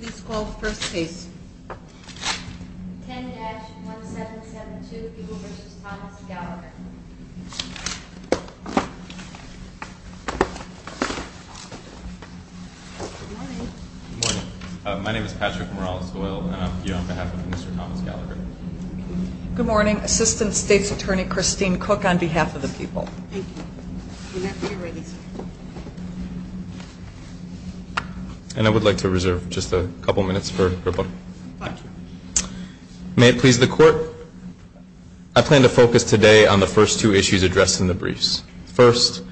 Good morning. My name is Patrick Morales-Hoyle and I'm here on behalf of Mr. Thomas Gallagher. Good morning. Assistant State's Attorney Christine Cook on behalf of the people. And I would like to reserve just a couple of minutes for her book. May it please the court. I plan to focus today on the first two issues addressed in the briefs. First,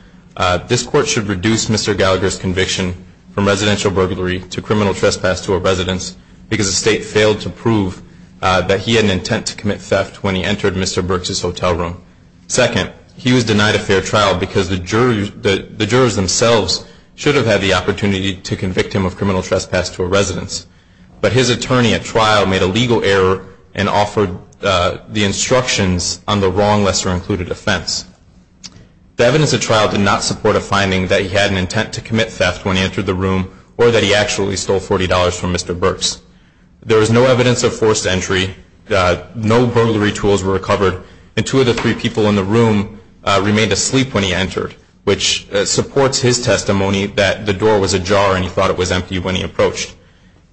this court should reduce Mr. Gallagher's conviction from residential burglary to criminal trespass to a residence because the state failed to prove that he had an intent to commit theft when he entered Mr. Burks' hotel room. Second, he was denied a fair trial because the jurors themselves should have had the opportunity to convict him of criminal trespass to a residence. But his attorney at trial made a legal error and offered the instructions on the wrong lesser-included offense. The evidence at trial did not support a finding that he had an intent to commit theft when he entered the room or that he actually stole $40 from Mr. Burks. There was no evidence of forced entry, no burglary tools were recovered, and two of the three people in the room remained asleep when he entered, which supports his testimony that the door was ajar and he thought it was empty when he approached.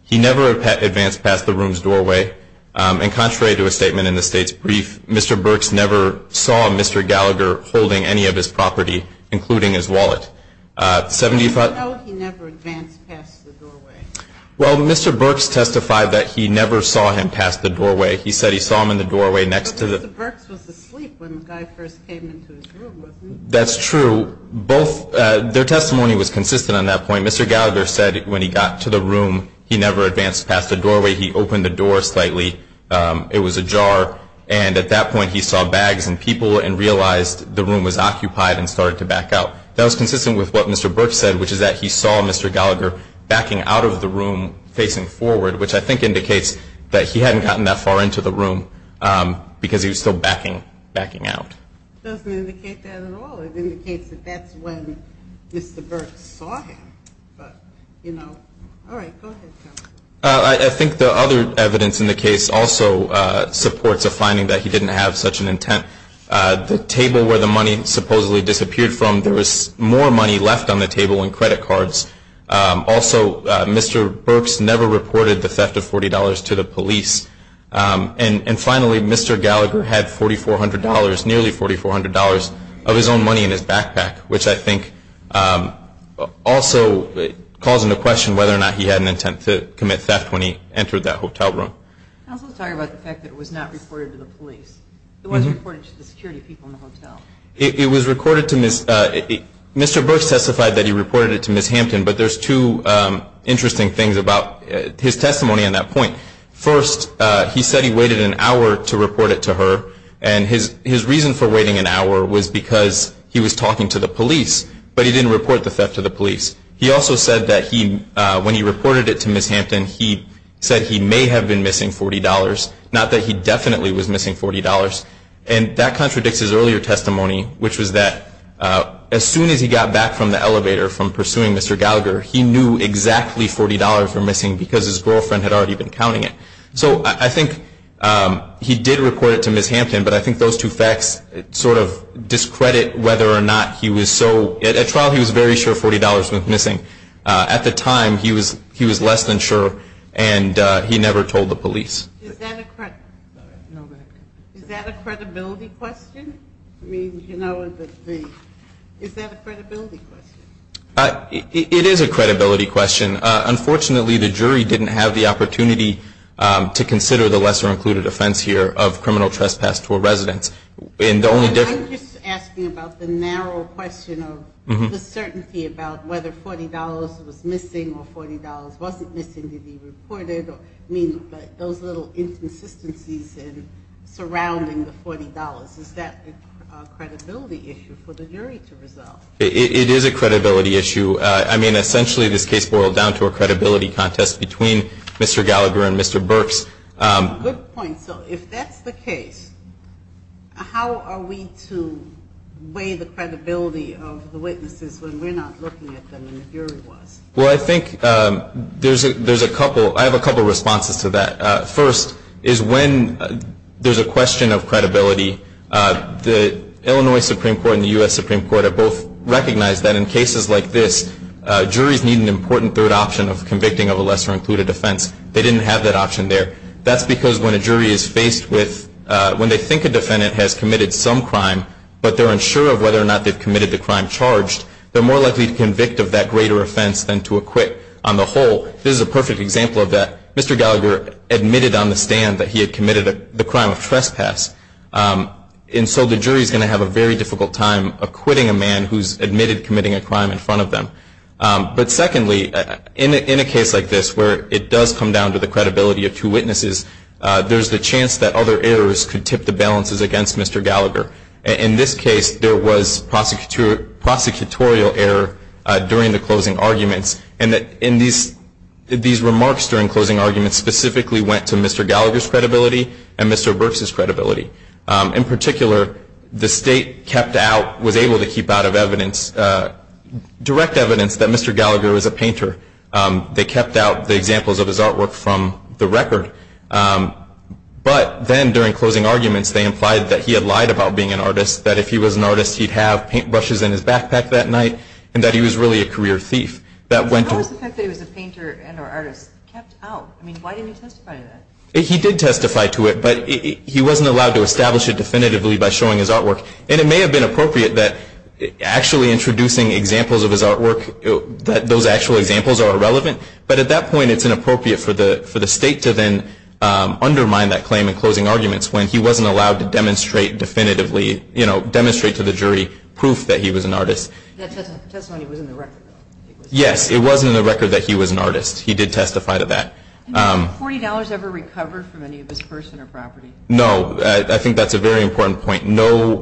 He never advanced past the room's doorway. And contrary to a statement in the state's brief, Mr. Burks never saw Mr. Gallagher holding any of his property, including his wallet. 75- No, he never advanced past the doorway. Well, Mr. Burks testified that he never saw him past the doorway. He said he saw him in the doorway next to the- But Mr. Burks was asleep when the guy first came into his room, wasn't he? That's true. Both, their testimony was consistent on that point. Mr. Gallagher said when he got to the room, he never advanced past the doorway. He opened the door slightly. It was ajar. And at that point, he saw bags and people and realized the room was occupied and started to back out. That was consistent with what Mr. Burks said, which is that he saw Mr. Gallagher backing out of the room facing forward, which I think indicates that he hadn't gotten that far into the room because he was still backing out. Doesn't indicate that at all. It indicates that that's when Mr. Burks saw him. But, you know, all right, go ahead, tell me. I think the other evidence in the case also supports a finding that he didn't have such an intent. The table where the money supposedly disappeared from, there was more money left on the table and credit cards. Also, Mr. Burks never reported the theft of $40 to the police. And finally, Mr. Gallagher had $4,400, nearly $4,400 of his own money in his backpack, which I think also calls into question whether or not he had an intent to commit theft when he entered that hotel room. I also was talking about the fact that it was not reported to the police. It wasn't reported to the security people in the hotel. It was recorded to Ms., Mr. Burks testified that he reported it to Ms. Hampton, but there's two interesting things about his testimony on that point. First, he said he waited an hour to report it to her. And his reason for waiting an hour was because he was talking to the police, but he didn't report the theft to the police. He also said that when he reported it to Ms. Hampton, he said he may have been missing $40. Not that he definitely was missing $40. And that contradicts his earlier testimony, which was that as soon as he got back from the elevator from pursuing Mr. Gallagher, he knew exactly $40 were missing because his girlfriend had already been counting it. So I think he did report it to Ms. Hampton, but I think those two facts sort of discredit whether or not he was so. At trial, he was very sure $40 was missing. At the time, he was less than sure, and he never told the police. Is that a credibility question? I mean, is that a credibility question? It is a credibility question. Unfortunately, the jury didn't have the opportunity to consider the lesser included offense here of criminal trespass to a residence. And the only difference- I'm just asking about the narrow question of the certainty about whether $40 was missing or $40 wasn't missing to be reported, or I mean, those little inconsistencies surrounding the $40. Is that a credibility issue for the jury to resolve? It is a credibility issue. I mean, essentially this case boiled down to a credibility contest between Mr. Gallagher and Mr. Burks. Good point. So if that's the case, how are we to weigh the credibility of the witnesses when we're not looking at them and the jury was? Well, I think there's a couple. I have a couple responses to that. First is when there's a question of credibility, the Illinois Supreme Court and the U.S. Supreme Court have both recognized that in cases like this, juries need an important third option of convicting of a lesser included offense. They didn't have that option there. That's because when a jury is faced with- when they think a defendant has committed some crime, but they're unsure of whether or not they've committed the crime charged, they're more likely to convict of that greater offense than to acquit. On the whole, this is a perfect example of that. Mr. Gallagher admitted on the stand that he had committed the crime of trespass. And so the jury's going to have a very difficult time acquitting a man who's admitted committing a crime in front of them. But secondly, in a case like this where it does come down to the credibility of two witnesses, there's the chance that other errors could tip the balances against Mr. Gallagher. In this case, there was prosecutorial error during the closing arguments. And these remarks during closing arguments specifically went to Mr. Gallagher's credibility and Mr. Burks' credibility. In particular, the state kept out, was able to keep out of evidence, direct evidence that Mr. Gallagher was a painter. They kept out the examples of his artwork from the record. But then during closing arguments, they implied that he had lied about being an artist, that if he was an artist, he'd have paintbrushes in his backpack that night, and that he was really a career thief. That went to- How was the fact that he was a painter and or artist kept out? I mean, why didn't he testify to that? He did testify to it, but he wasn't allowed to establish it definitively by showing his artwork. And it may have been appropriate that actually introducing examples of his artwork, that those actual examples are irrelevant. But at that point, it's inappropriate for the state to then undermine that claim in closing arguments when he wasn't allowed to demonstrate definitively, you know, demonstrate to the jury proof that he was an artist. That testimony was in the record, though. Yes, it was in the record that he was an artist. He did testify to that. And was $40 ever recovered from any of his person or property? No, I think that's a very important point. No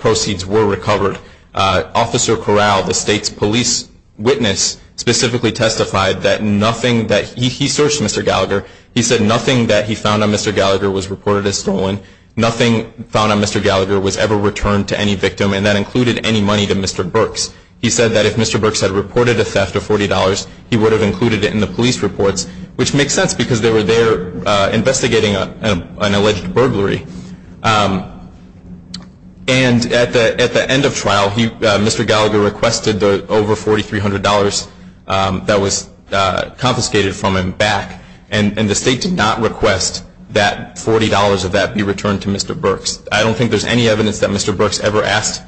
proceeds were recovered. Officer Corral, the state's police witness, specifically testified that nothing that he- he searched Mr. Gallagher. He said nothing that he found on Mr. Gallagher was reported as stolen. Nothing found on Mr. Gallagher was ever returned to any victim, and that included any money to Mr. Burks. He said that if Mr. Burks had reported a theft of $40, he would have included it in the police reports, which makes sense because they were there investigating an alleged burglary. And at the end of trial, Mr. Gallagher requested the over $4,300 that was confiscated from him back. And the state did not request that $40 of that be returned to Mr. Burks. I don't think there's any evidence that Mr. Burks ever asked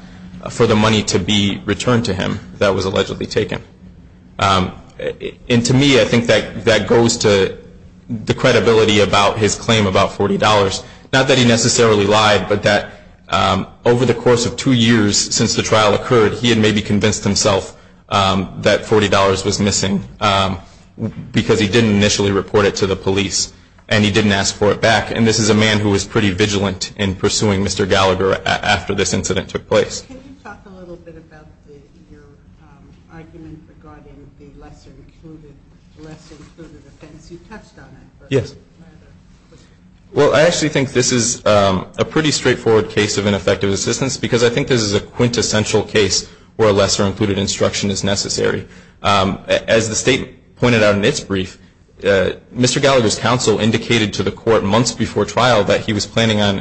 for the money to be returned to him that was allegedly taken. And to me, I think that goes to the credibility about his claim about $40. Not that he necessarily lied, but that over the course of two years since the trial occurred, he had maybe convinced himself that $40 was missing because he didn't initially report it to the police. And he didn't ask for it back. And this is a man who was pretty vigilant in pursuing Mr. Gallagher after this incident took place. Can you talk a little bit about your argument regarding the lesser included offense? You touched on it. Yes. Well, I actually think this is a pretty straightforward case of ineffective assistance, because I think this is a quintessential case where a lesser included instruction is necessary. As the state pointed out in its brief, Mr. Gallagher's counsel indicated to the court months before trial that he was planning on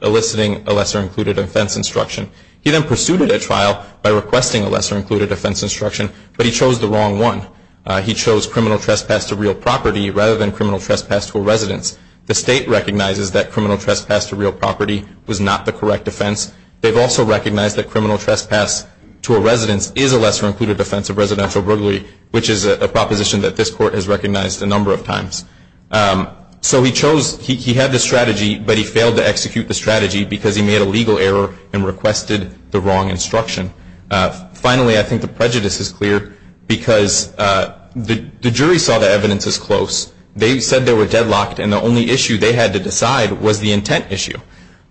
eliciting a lesser included offense instruction. He then pursued a trial by requesting a lesser included offense instruction, but he chose the wrong one. He chose criminal trespass to real property rather than criminal trespass to a residence. The state recognizes that criminal trespass to real property was not the correct offense. They've also recognized that criminal trespass to a residence is a lesser included offense of residential burglary, which is a proposition that this court has recognized a number of times. So he chose, he had the strategy, but he failed to execute the strategy because he made a legal error and requested the wrong instruction. Finally, I think the prejudice is clear, because the jury saw the evidence as close. They said they were deadlocked, and the only issue they had to decide was the intent issue.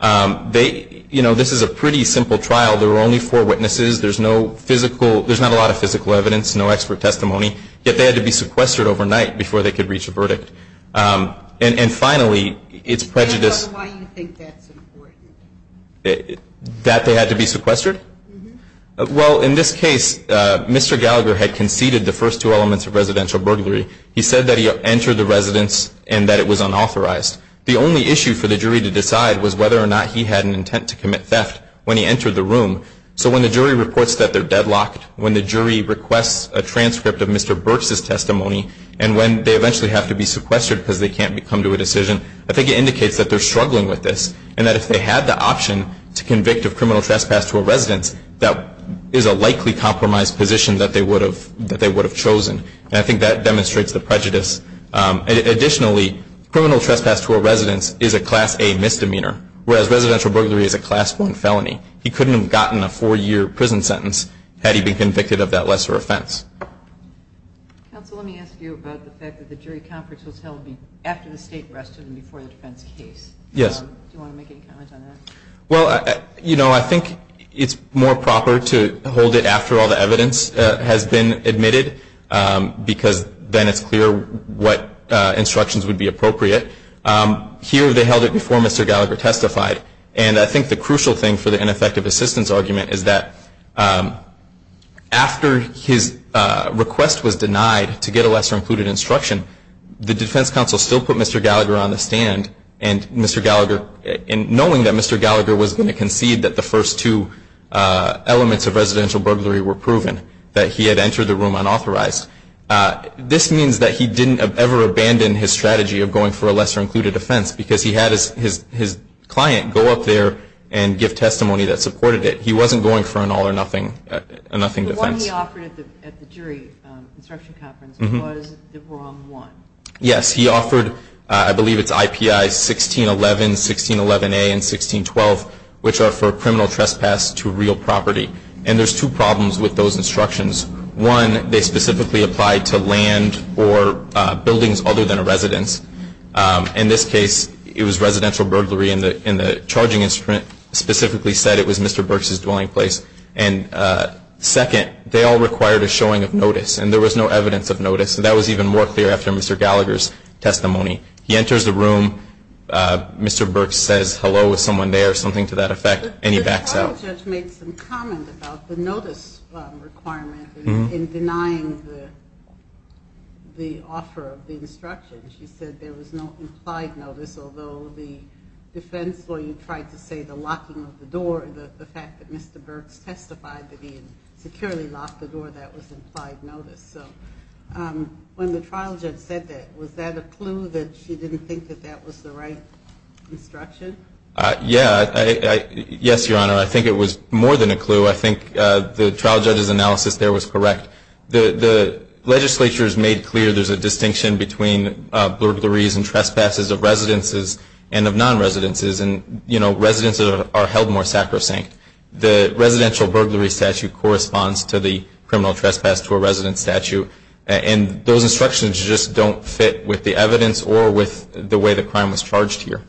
They, you know, this is a pretty simple trial. There were only four witnesses. There's no physical, there's not a lot of physical evidence, no expert testimony. Yet they had to be sequestered overnight before they could reach a verdict. And finally, it's prejudice. Why do you think that's important? That they had to be sequestered? Well, in this case, Mr. Gallagher had conceded the first two elements of residential burglary. He said that he entered the residence and that it was unauthorized. The only issue for the jury to decide was whether or not he had an intent to commit theft when he entered the room. So when the jury reports that they're deadlocked, when the jury requests a transcript of Mr. Burks' testimony, and when they eventually have to be sequestered because they can't come to a decision, I think it indicates that they're struggling with this. And that if they had the option to convict of criminal trespass to a residence, that is a likely compromise position that they would have chosen. And I think that demonstrates the prejudice. Additionally, criminal trespass to a residence is a Class A misdemeanor, whereas residential burglary is a Class 1 felony. He couldn't have gotten a four-year prison sentence had he been convicted of that lesser offense. Counsel, let me ask you about the fact that the jury conference was held after the state arrested him before the defense case. Yes. Do you want to make any comment on that? Well, you know, I think it's more proper to hold it after all the evidence has been admitted because then it's clear what instructions would be appropriate. Here, they held it before Mr. Gallagher testified. And I think the crucial thing for the ineffective assistance argument is that after his request was denied to get a lesser included instruction, the defense counsel still put Mr. Gallagher on the stand. And Mr. Gallagher, knowing that Mr. Gallagher was going to concede that the first two elements of residential burglary were proven, that he had entered the room unauthorized, this means that he didn't have ever abandoned his strategy of going for a lesser included offense because he had his client go up there and give testimony that supported it. He wasn't going for an all or nothing defense. The one he offered at the jury instruction conference was the wrong one. Yes. He offered, I believe it's IPI 1611, 1611A, and 1612, which are for criminal trespass to real property. And there's two problems with those instructions. One, they specifically applied to land or buildings other than a residence. In this case, it was residential burglary in the charging instrument, specifically said it was Mr. Burks' dwelling place. And second, they all required a showing of notice, and there was no evidence of notice. That was even more clear after Mr. Gallagher's testimony. He enters the room. Mr. Burks says, hello, is someone there, something to that effect, and he backs out. The trial judge made some comment about the notice requirement in denying the offer of the instruction. She said there was no implied notice, although the defense lawyer tried to say the locking of the door, the fact that Mr. Burks testified that he had securely locked the door, that was implied notice. So when the trial judge said that, was that a clue that she didn't think that that was the right instruction? Yeah. Yes, Your Honor, I think it was more than a clue. I think the trial judge's analysis there was correct. The legislature has made clear there's a distinction between burglaries and trespasses of residences and of non-residences. And, you know, residences are held more sacrosanct. The residential burglary statute corresponds to the criminal trespass to a residence statute. And those instructions just don't fit with the evidence or with the way the crime was charged here.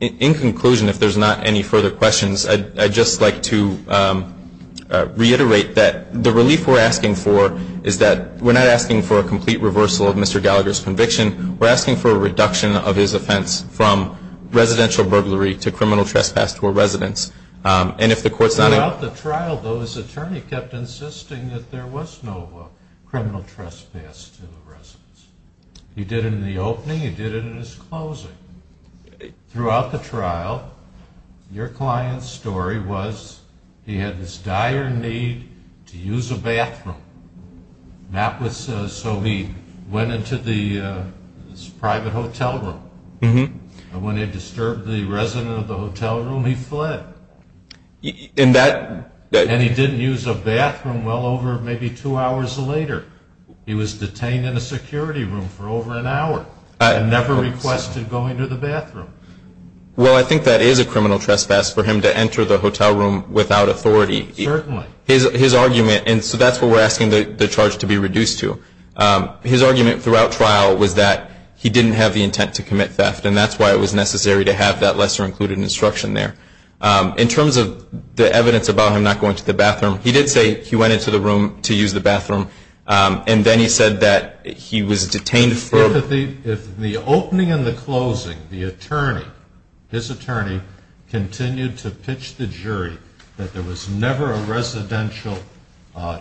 In conclusion, if there's not any further questions, I'd just like to reiterate that the relief we're asking for is that we're not asking for a complete reversal of Mr. Gallagher's conviction. We're asking for a reduction of his offense from residential burglary to criminal trespass to a residence. And if the court's not in the trial, though, his attorney kept insisting that there was no criminal trespass to the residence. He did it in the opening. He did it in his closing. Throughout the trial, your client's story was he had this dire need to use a bathroom. That was so he went into the private hotel room. And when he disturbed the resident of the hotel room, he fled. And he didn't use a bathroom well over maybe two hours later. He was detained in a security room for over an hour and never requested going to the bathroom. Well, I think that is a criminal trespass for him to enter the hotel room without authority. Certainly. His argument, and so that's what we're asking the charge to be reduced to. His argument throughout trial was that he didn't have the intent to commit theft. And that's why it was necessary to have that lesser included instruction there. In terms of the evidence about him not going to the bathroom, he did say he went into the room to use the bathroom. And then he said that he was detained for. If the opening and the closing, the attorney, his attorney continued to pitch the jury that there was never a residential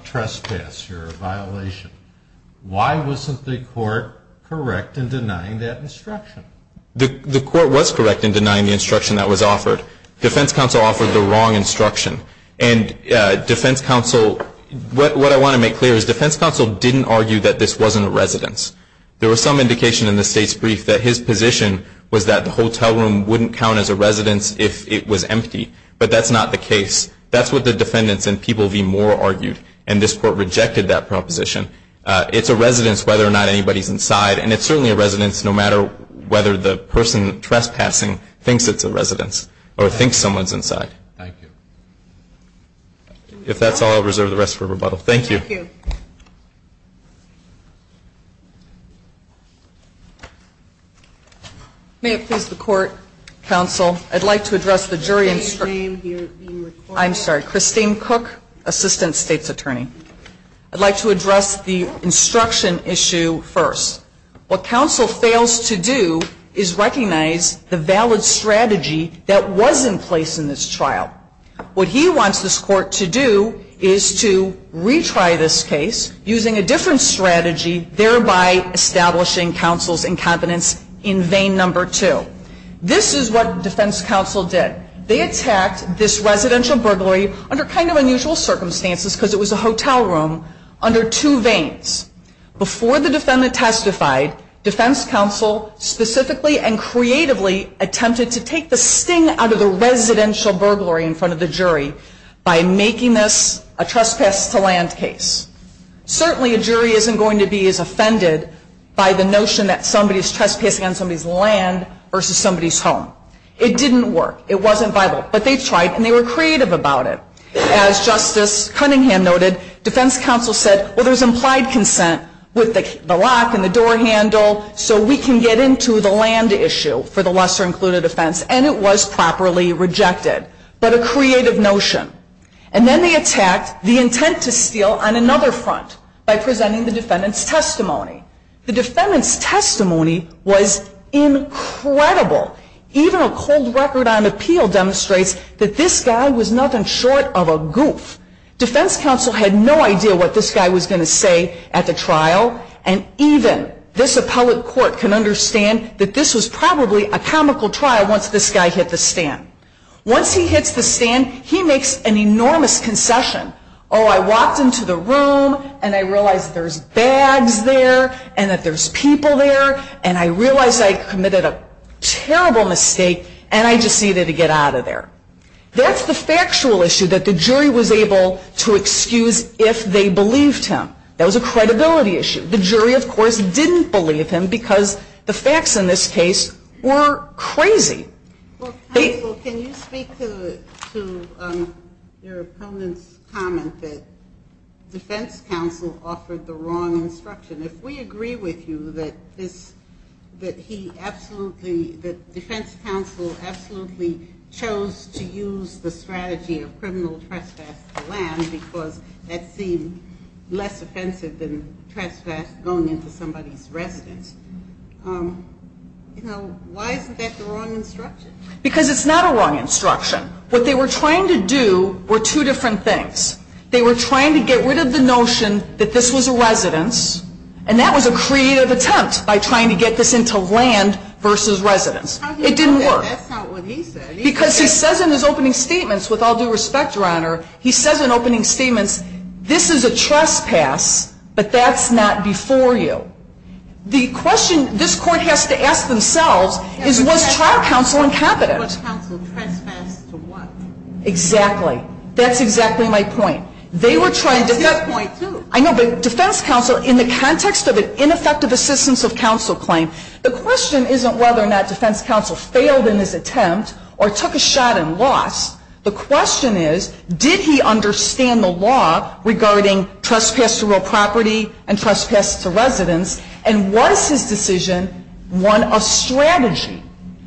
trespass or a violation, why wasn't the court correct in denying that instruction? The court was correct in denying the instruction that was offered. Defense counsel offered the wrong instruction. And defense counsel, what I want to make clear is defense counsel didn't argue that this wasn't a residence. There was some indication in the state's brief that his position was that the hotel room wouldn't count as a residence if it was empty. But that's not the case. That's what the defendants and People v. Moore argued. And this court rejected that proposition. It's a residence whether or not anybody's inside. And it's certainly a residence no matter whether the person trespassing thinks it's a residence or thinks someone's inside. Thank you. If that's all, I'll reserve the rest for rebuttal. Thank you. Thank you. May it please the court, counsel, I'd like to address the jury instruction. I'm sorry, Christine Cook, assistant state's attorney. I'd like to address the instruction issue first. What counsel fails to do is recognize the valid strategy that was in place in this trial. What he wants this court to do is to retry this case using a different strategy, thereby establishing counsel's incompetence in vein number two. This is what defense counsel did. They attacked this residential burglary under kind of unusual circumstances because it was a hotel room under two veins. Before the defendant testified, defense counsel specifically and creatively attempted to take the sting out of the residential burglary in front of the jury by making this a trespass to land case. Certainly a jury isn't going to be as offended by the notion that somebody's trespassing on somebody's land versus somebody's home. It didn't work. It wasn't viable. But they tried and they were creative about it. As Justice Cunningham noted, defense counsel said, well, there's implied consent with the lock and the door handle, so we can get into the land issue for the lesser included offense, and it was properly rejected. But a creative notion. And then they attacked the intent to steal on another front by presenting the defendant's testimony. The defendant's testimony was incredible. Even a cold record on appeal demonstrates that this guy was nothing short of a goof. Defense counsel had no idea what this guy was going to say at the trial, and even this appellate court can understand that this was probably a comical trial once this guy hit the stand. Once he hits the stand, he makes an enormous concession. Oh, I walked into the room, and I realized there's bags there, and that there's people there, and I realized I committed a terrible mistake, and I just needed to get out of there. That's the factual issue that the jury was able to excuse if they believed him. That was a credibility issue. The jury, of course, didn't believe him because the facts in this case were crazy. They — Well, counsel, can you speak to your opponent's comment that defense counsel offered the wrong instruction? If we agree with you that this — that he absolutely — that defense counsel absolutely chose to use the strategy of criminal trespass to land because that seemed less offensive than trespass going into somebody's residence, you know, why isn't that the wrong instruction? Because it's not a wrong instruction. What they were trying to do were two different things. They were trying to get rid of the notion that this was a residence, and that was a creative attempt by trying to get this into land versus residence. It didn't work. That's not what he said. Because he says in his opening statements, with all due respect, Your Honor, he says in opening statements, this is a trespass, but that's not before you. The question this court has to ask themselves is, was trial counsel incompetent? Was counsel trespassed to what? Exactly. That's exactly my point. They were trying to — That's his point, too. I know, but defense counsel, in the context of an ineffective assistance of counsel claim, the question isn't whether or not defense counsel failed in his attempt or took a shot in loss. The question is, did he understand the law regarding trespass to real property and trespass to residence, and was his decision one of strategy?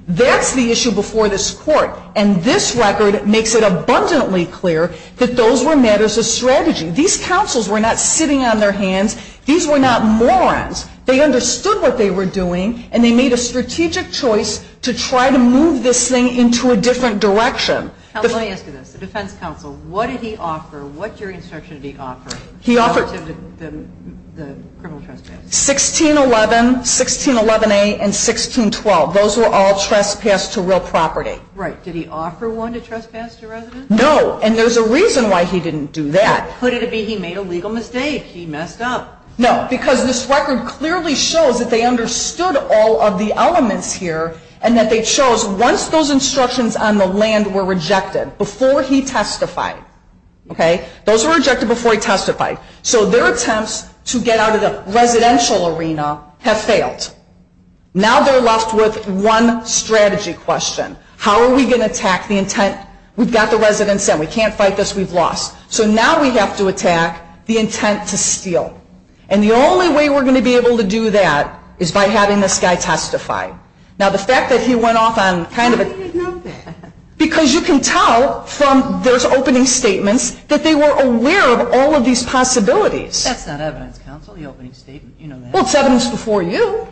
That's the issue before this court. And this record makes it abundantly clear that those were matters of strategy. These counsels were not sitting on their hands. These were not morons. They understood what they were doing, and they made a strategic choice to try to move this thing into a different direction. Counsel, let me ask you this. The defense counsel, what did he offer? What jury instruction did he offer relative to the criminal trespass? 1611, 1611A, and 1612. Those were all trespass to real property. Right. Did he offer one to trespass to residence? No, and there's a reason why he didn't do that. Could it be he made a legal mistake? He messed up. No, because this record clearly shows that they understood all of the elements here and that they chose, once those instructions on the land were rejected, before he testified, okay, those were rejected before he testified. So their attempts to get out of the residential arena have failed. Now they're left with one strategy question. How are we going to attack the intent? We've got the residents in. We can't fight this. We've lost. So now we have to attack the intent to steal, and the only way we're going to be able to do that is by having this guy testify. Now, the fact that he went off on kind of a How do you know that? Because you can tell from those opening statements that they were aware of all of these possibilities. That's not evidence, counsel, the opening statement. You know that. Well, it's evidence before you.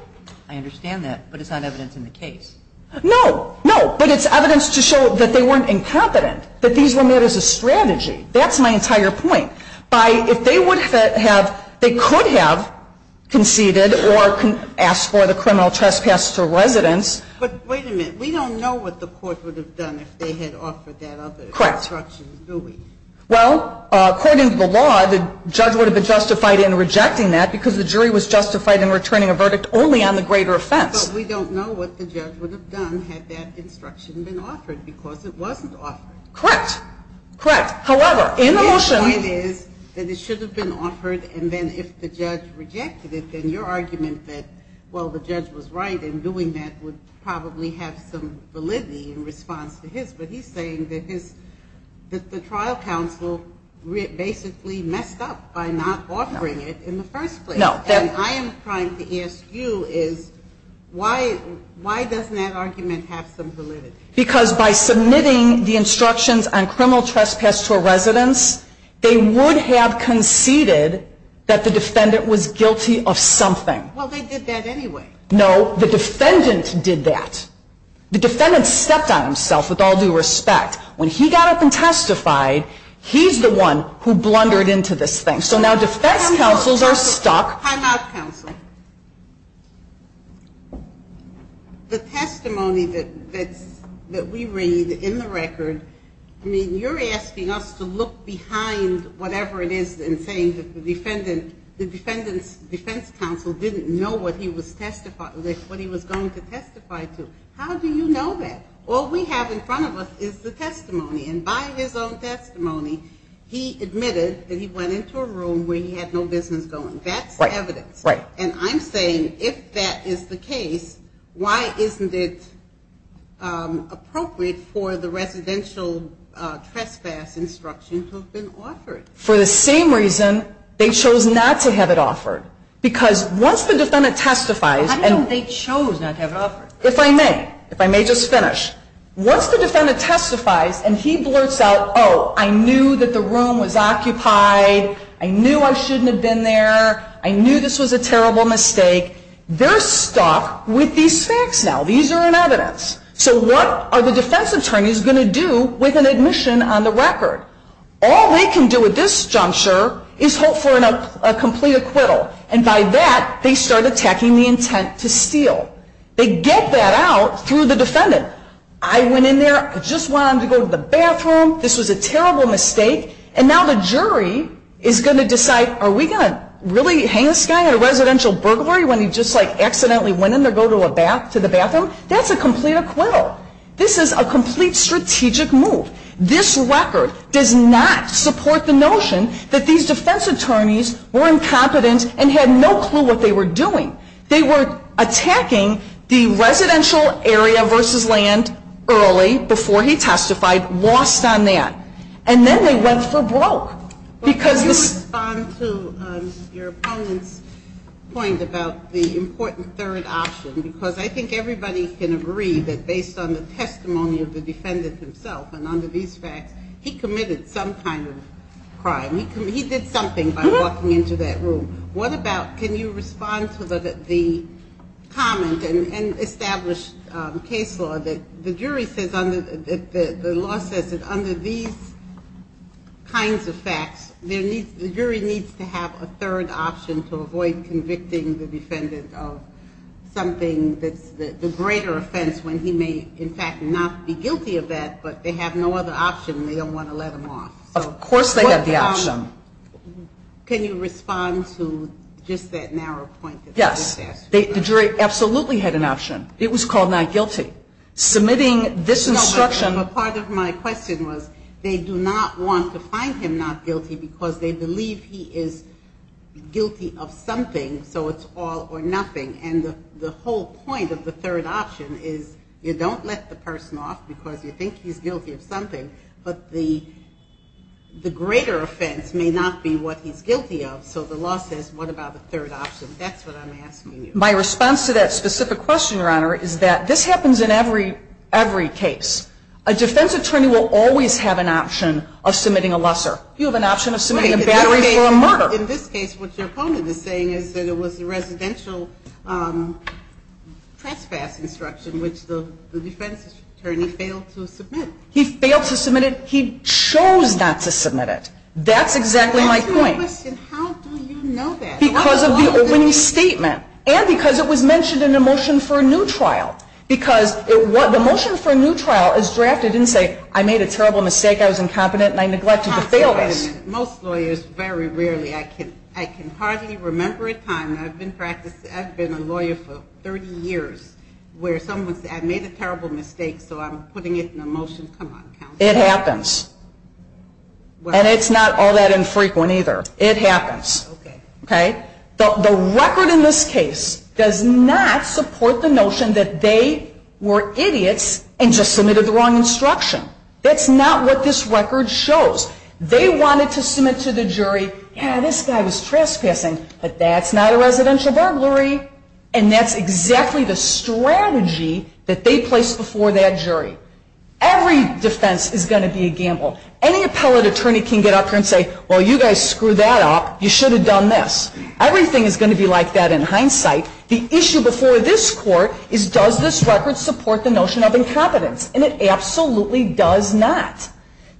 I understand that, but it's not evidence in the case. No, no, but it's evidence to show that they weren't incompetent, that these were made as a strategy. That's my entire point. By, if they would have, they could have conceded or asked for the criminal trespass to residents. But wait a minute. We don't know what the court would have done if they had offered that other instruction, do we? Well, according to the law, the judge would have been justified in rejecting that because the jury was justified in returning a verdict only on the greater offense. But we don't know what the judge would have done had that instruction been offered because it wasn't offered. Correct. Correct. However, in the motion. The point is that it should have been offered, and then if the judge rejected it, then your argument that, well, the judge was right in doing that would probably have some validity in response to his, but he's saying that the trial counsel basically messed up by not offering it in the first place. No. And I am trying to ask you is why, why doesn't that argument have some validity? Because by submitting the instructions on criminal trespass to a residence, they would have conceded that the defendant was guilty of something. Well, they did that anyway. No, the defendant did that. The defendant stepped on himself with all due respect. When he got up and testified, he's the one who blundered into this thing. So now defense counsels are stuck. Time out, counsel. The testimony that we read in the record, I mean, you're asking us to look behind whatever it is and saying that the defendant's defense counsel didn't know what he was going to testify to. How do you know that? All we have in front of us is the testimony, and by his own testimony, he admitted that he went into a room where he had no business going. That's evidence. Right. And I'm saying if that is the case, why isn't it appropriate for the residential trespass instruction to have been offered? For the same reason they chose not to have it offered. Because once the defendant testifies. How do you know they chose not to have it offered? If I may, if I may just finish. Once the defendant testifies and he blurts out, oh, I knew that the room was occupied, I knew I shouldn't have been there, I knew this was a terrible mistake, they're stuck with these facts now. These are in evidence. So what are the defense attorneys going to do with an admission on the record? All they can do at this juncture is hope for a complete acquittal. And by that, they start attacking the intent to steal. They get that out through the defendant. I went in there, I just wanted to go to the bathroom, this was a terrible mistake, and now the jury is going to decide, are we going to really hang this guy in a residential burglary when he just like accidentally went in there to go to the bathroom? That's a complete acquittal. This is a complete strategic move. This record does not support the notion that these defense attorneys were incompetent and had no clue what they were doing. They were attacking the residential area versus land early, before he testified, lost on that. And then they went for broke. Because this- Can you respond to your opponent's point about the important third option? Because I think everybody can agree that based on the testimony of the defendant himself and under these facts, he committed some kind of crime. He did something by walking into that room. What about, can you respond to the comment and established case law that the jury says, the law says that under these kinds of facts, the jury needs to have a third option to avoid convicting the defendant of something that's the greater offense, when he may in fact not be guilty of that, but they have no other option, they don't want to let him off. Of course they have the option. Can you respond to just that narrow point that I just asked you about? Yes. The jury absolutely had an option. It was called not guilty. Submitting this instruction- No, but part of my question was, they do not want to find him not guilty because they believe he is guilty of something, so it's all or nothing. And the whole point of the third option is, you don't let the person off because you think he's guilty of something, but the greater offense may not be what he's guilty of, so the law says, what about the third option? That's what I'm asking you. My response to that specific question, Your Honor, is that this happens in every case. A defense attorney will always have an option of submitting a lesser. You have an option of submitting a battery for a murder. In this case, what your opponent is saying is that it was a residential trespass instruction, which the defense attorney failed to submit. He failed to submit it. He chose not to submit it. That's exactly my point. How do you know that? Because of the opening statement, and because it was mentioned in the motion for a new trial. Because the motion for a new trial is drafted and say, I made a terrible mistake, I was incompetent, and I neglected to fail this. Most lawyers, very rarely, I can hardly remember a time, and I've been a lawyer for 30 years, where someone said, I made a terrible mistake, so I'm putting it in a motion, come on, counsel. It happens. And it's not all that infrequent either. It happens, okay? The record in this case does not support the notion that they were idiots and just submitted the wrong instruction. That's not what this record shows. They wanted to submit to the jury, yeah, this guy was trespassing, but that's not a residential burglary. And that's exactly the strategy that they placed before that jury. Every defense is going to be a gamble. Any appellate attorney can get up here and say, well, you guys screwed that up. You should have done this. Everything is going to be like that in hindsight. The issue before this court is, does this record support the notion of incompetence? And it absolutely does not.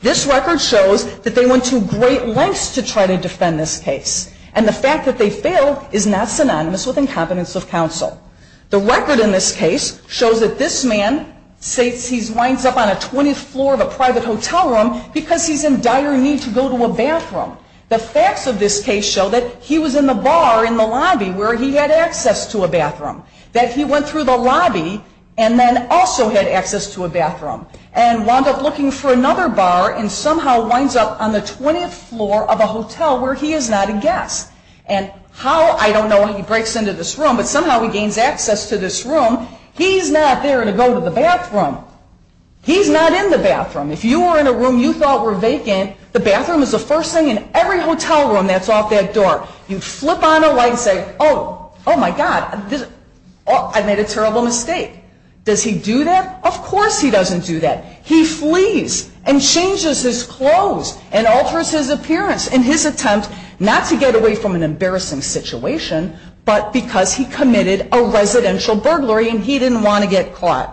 This record shows that they went to great lengths to try to defend this case. And the fact that they failed is not synonymous with incompetence of counsel. The record in this case shows that this man states he winds up on a 20th floor of a private hotel room because he's in dire need to go to a bathroom. The facts of this case show that he was in the bar in the lobby where he had access to a bathroom, that he went through the lobby and then also had access to a bathroom and wound up looking for another bar and somehow winds up on the 20th floor of a hotel where he is not a guest. And how, I don't know how he breaks into this room, but somehow he gains access to this room. He's not there to go to the bathroom. He's not in the bathroom. If you were in a room you thought were vacant, the bathroom is the first thing in every hotel room that's off that door. You flip on a light and say, oh, oh my God, I made a terrible mistake. Does he do that? Of course he doesn't do that. He flees and changes his clothes and alters his appearance in his attempt not to get away from an embarrassing situation but because he committed a residential burglary and he didn't want to get caught.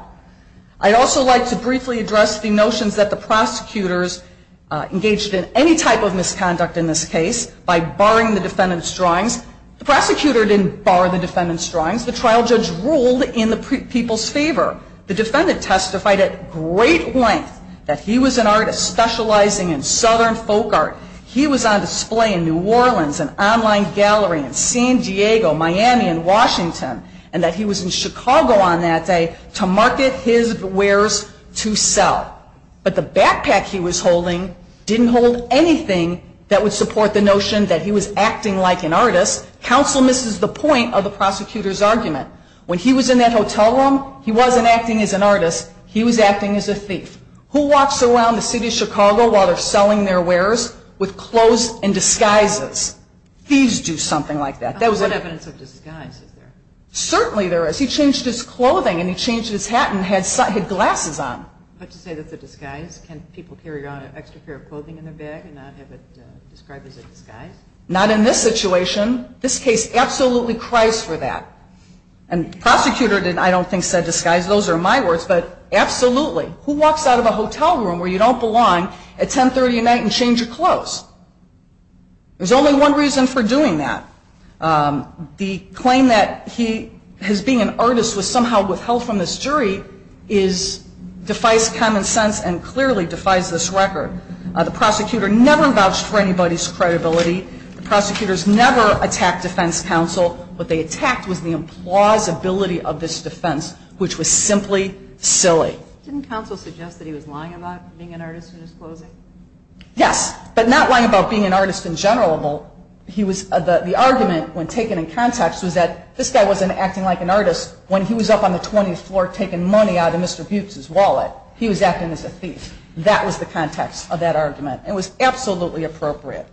I'd also like to briefly address the notions that the prosecutors engaged in any type of misconduct in this case by barring the defendant's drawings. The prosecutor didn't bar the defendant's drawings. The trial judge ruled in the people's favor. The defendant testified at great length that he was an artist specializing in southern folk art. He was on display in New Orleans, an online gallery in San Diego, Miami, and Washington, and that he was in Chicago on that day to market his wares to sell. But the backpack he was holding didn't hold anything that would support the notion that he was acting like an artist. Counsel misses the point of the prosecutor's argument. When he was in that hotel room, he wasn't acting as an artist. He was acting as a thief. Who walks around the city of Chicago while they're selling their wares with clothes and disguises? Thieves do something like that. What evidence of disguise is there? Certainly there is. He changed his clothing and he changed his hat and had glasses on. But to say that's a disguise, can people carry around an extra pair of clothing in their bag and not have it described as a disguise? Not in this situation. This case absolutely cries for that. And the prosecutor, I don't think, said disguise. Those are my words, but absolutely. Who walks out of a hotel room where you don't belong at 1030 at night and change your clothes? There's only one reason for doing that. The claim that he has been an artist was somehow withheld from this jury defies common sense and clearly defies this record. The prosecutor never vouched for anybody's credibility. The prosecutors never attacked defense counsel. What they attacked was the implausibility of this defense, which was simply silly. Didn't counsel suggest that he was lying about being an artist in his clothing? Yes, but not lying about being an artist in general. He was, the argument when taken in context was that this guy wasn't acting like an artist when he was up on the 20th floor taking money out of Mr. Butz's wallet. He was acting as a thief. That was the context of that argument. It was absolutely appropriate.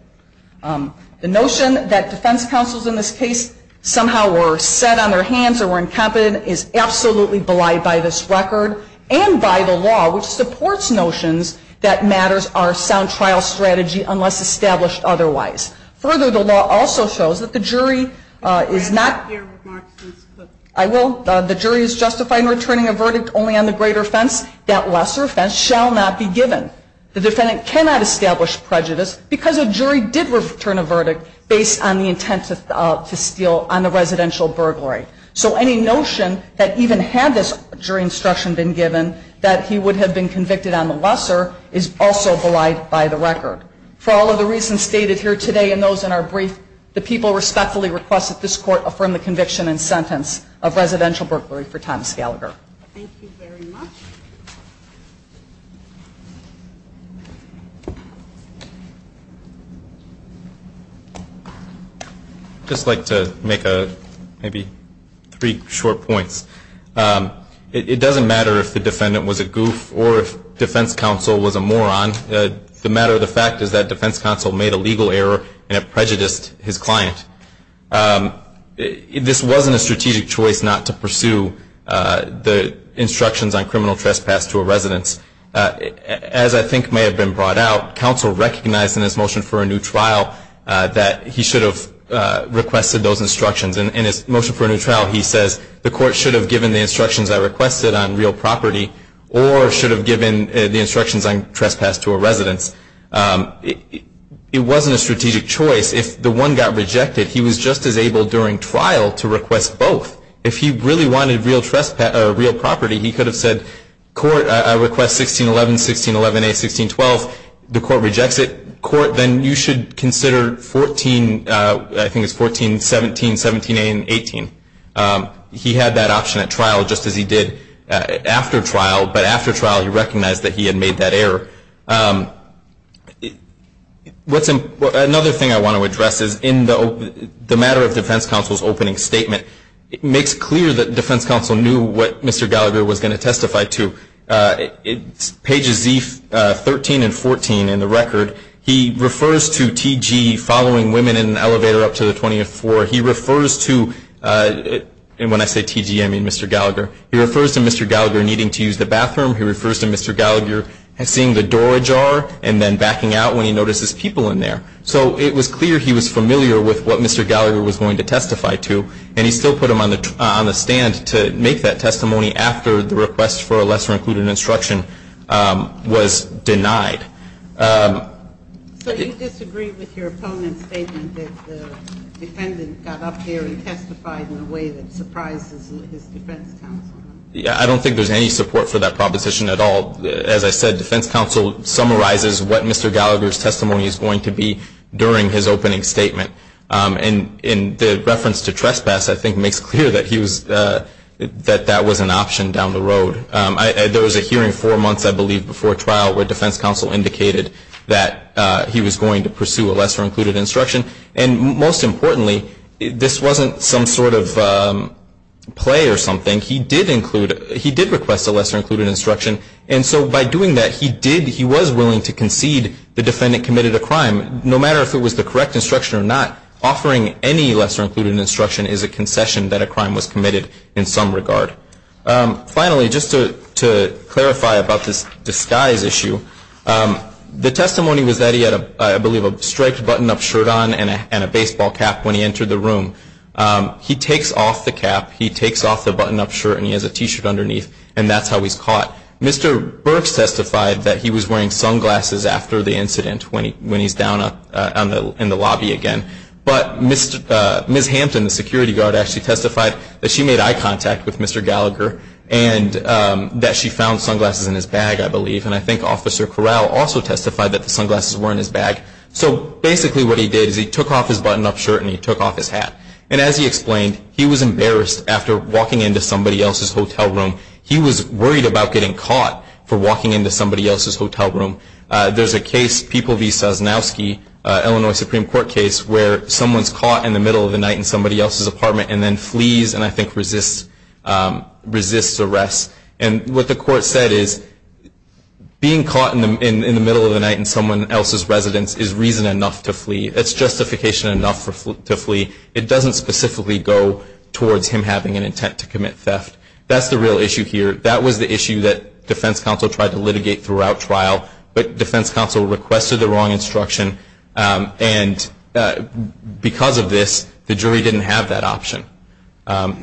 The notion that defense counsels in this case somehow were set on their hands or were incompetent is absolutely belied by this record and by the law, which supports notions that matters are sound trial strategy unless established otherwise. Further, the law also shows that the jury is not, I will, the jury is justified in returning a verdict only on the greater offense, that lesser offense shall not be given. The defendant cannot establish prejudice because a jury did return a verdict based on the intent to steal on the residential burglary. So any notion that even had this jury instruction been given that he would have been convicted on the lesser is also belied by the record. For all of the reasons stated here today and those in our brief, the people respectfully request that this court affirm the conviction and sentence of residential burglary for Thomas Gallagher. Thank you very much. I'd just like to make maybe three short points. It doesn't matter if the defendant was a goof or if defense counsel was a moron. The matter of the fact is that defense counsel made a legal error and it prejudiced his client. This wasn't a strategic choice not to pursue the instructions on criminal trespass to a residence. As I think may have been brought out, counsel recognized in his motion for a new trial that he should have requested those instructions. In his motion for a new trial, he says the court should have given the instructions I requested on real property or should have given the instructions on trespass to a residence. It wasn't a strategic choice. If the one got rejected, he was just as able during trial to request both. If he really wanted real property, he could have said, court, I request 1611, 1611A, 1612. The court rejects it. Court, then you should consider 14, I think it's 14, 17, 17A, and 18. He had that option at trial just as he did after trial, but after trial he recognized that he had made that error. Another thing I want to address is in the matter of defense counsel's opening statement, it makes clear that defense counsel knew what Mr. Gallagher was going to testify to. It's pages 13 and 14 in the record. He refers to TG following women in an elevator up to the 24th floor. He refers to, and when I say TG, I mean Mr. Gallagher. He refers to Mr. Gallagher needing to use the bathroom. He refers to Mr. Gallagher seeing the door ajar and then backing out when he notices people in there. So it was clear he was familiar with what Mr. Gallagher was going to testify to, and he still put him on the stand to make that testimony after the request for a lesser included instruction was denied. So you disagree with your opponent's statement that the defendant got up here and testified in a way that surprises his defense counsel? I don't think there's any support for that proposition at all. As I said, defense counsel summarizes what Mr. Gallagher's testimony is going to be during his opening statement. And the reference to trespass, I think, makes clear that that was an option down the road. There was a hearing four months, I believe, before trial where defense counsel indicated that he was going to pursue a lesser included instruction. And most importantly, this wasn't some sort of play or something. He did request a lesser included instruction. And so by doing that, he was willing to concede the defendant committed a crime. No matter if it was the correct instruction or not, offering any lesser included instruction is a concession that a crime was committed in some regard. Finally, just to clarify about this disguise issue, the testimony was that he had, I believe, a striped button-up shirt on and a baseball cap when he entered the room. He takes off the cap, he takes off the button-up shirt, and he has a T-shirt underneath, and that's how he's caught. Mr. Burks testified that he was wearing sunglasses after the incident when he's down in the lobby again. But Ms. Hampton, the security guard, actually testified that she made eye contact with Mr. Gallagher and that she found sunglasses in his bag, I believe. And I think Officer Corral also testified that the sunglasses were in his bag. So basically what he did is he took off his button-up shirt and he took off his hat. And as he explained, he was embarrassed after walking into somebody else's hotel room. He was worried about getting caught for walking into somebody else's hotel room. There's a case, People v. Sosnowski, Illinois Supreme Court case, where someone's caught in the middle of the night in somebody else's apartment and then flees and I think resists arrest. And what the court said is being caught in the middle of the night in someone else's residence is reason enough to flee. It's justification enough to flee. It doesn't specifically go towards him having an intent to commit theft. That's the real issue here. That was the issue that defense counsel tried to litigate throughout trial, but defense counsel requested the wrong instruction. And because of this, the jury didn't have that option.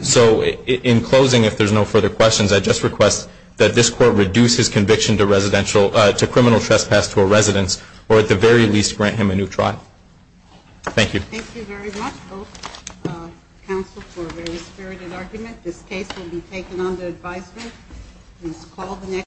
So in closing, if there's no further questions, I just request that this court reduce his conviction to criminal trespass to a residence, or at the very least, grant him a new trial. Thank you. Thank you very much both counsel for a very spirited argument. This case will be taken under advisement. Please call the next.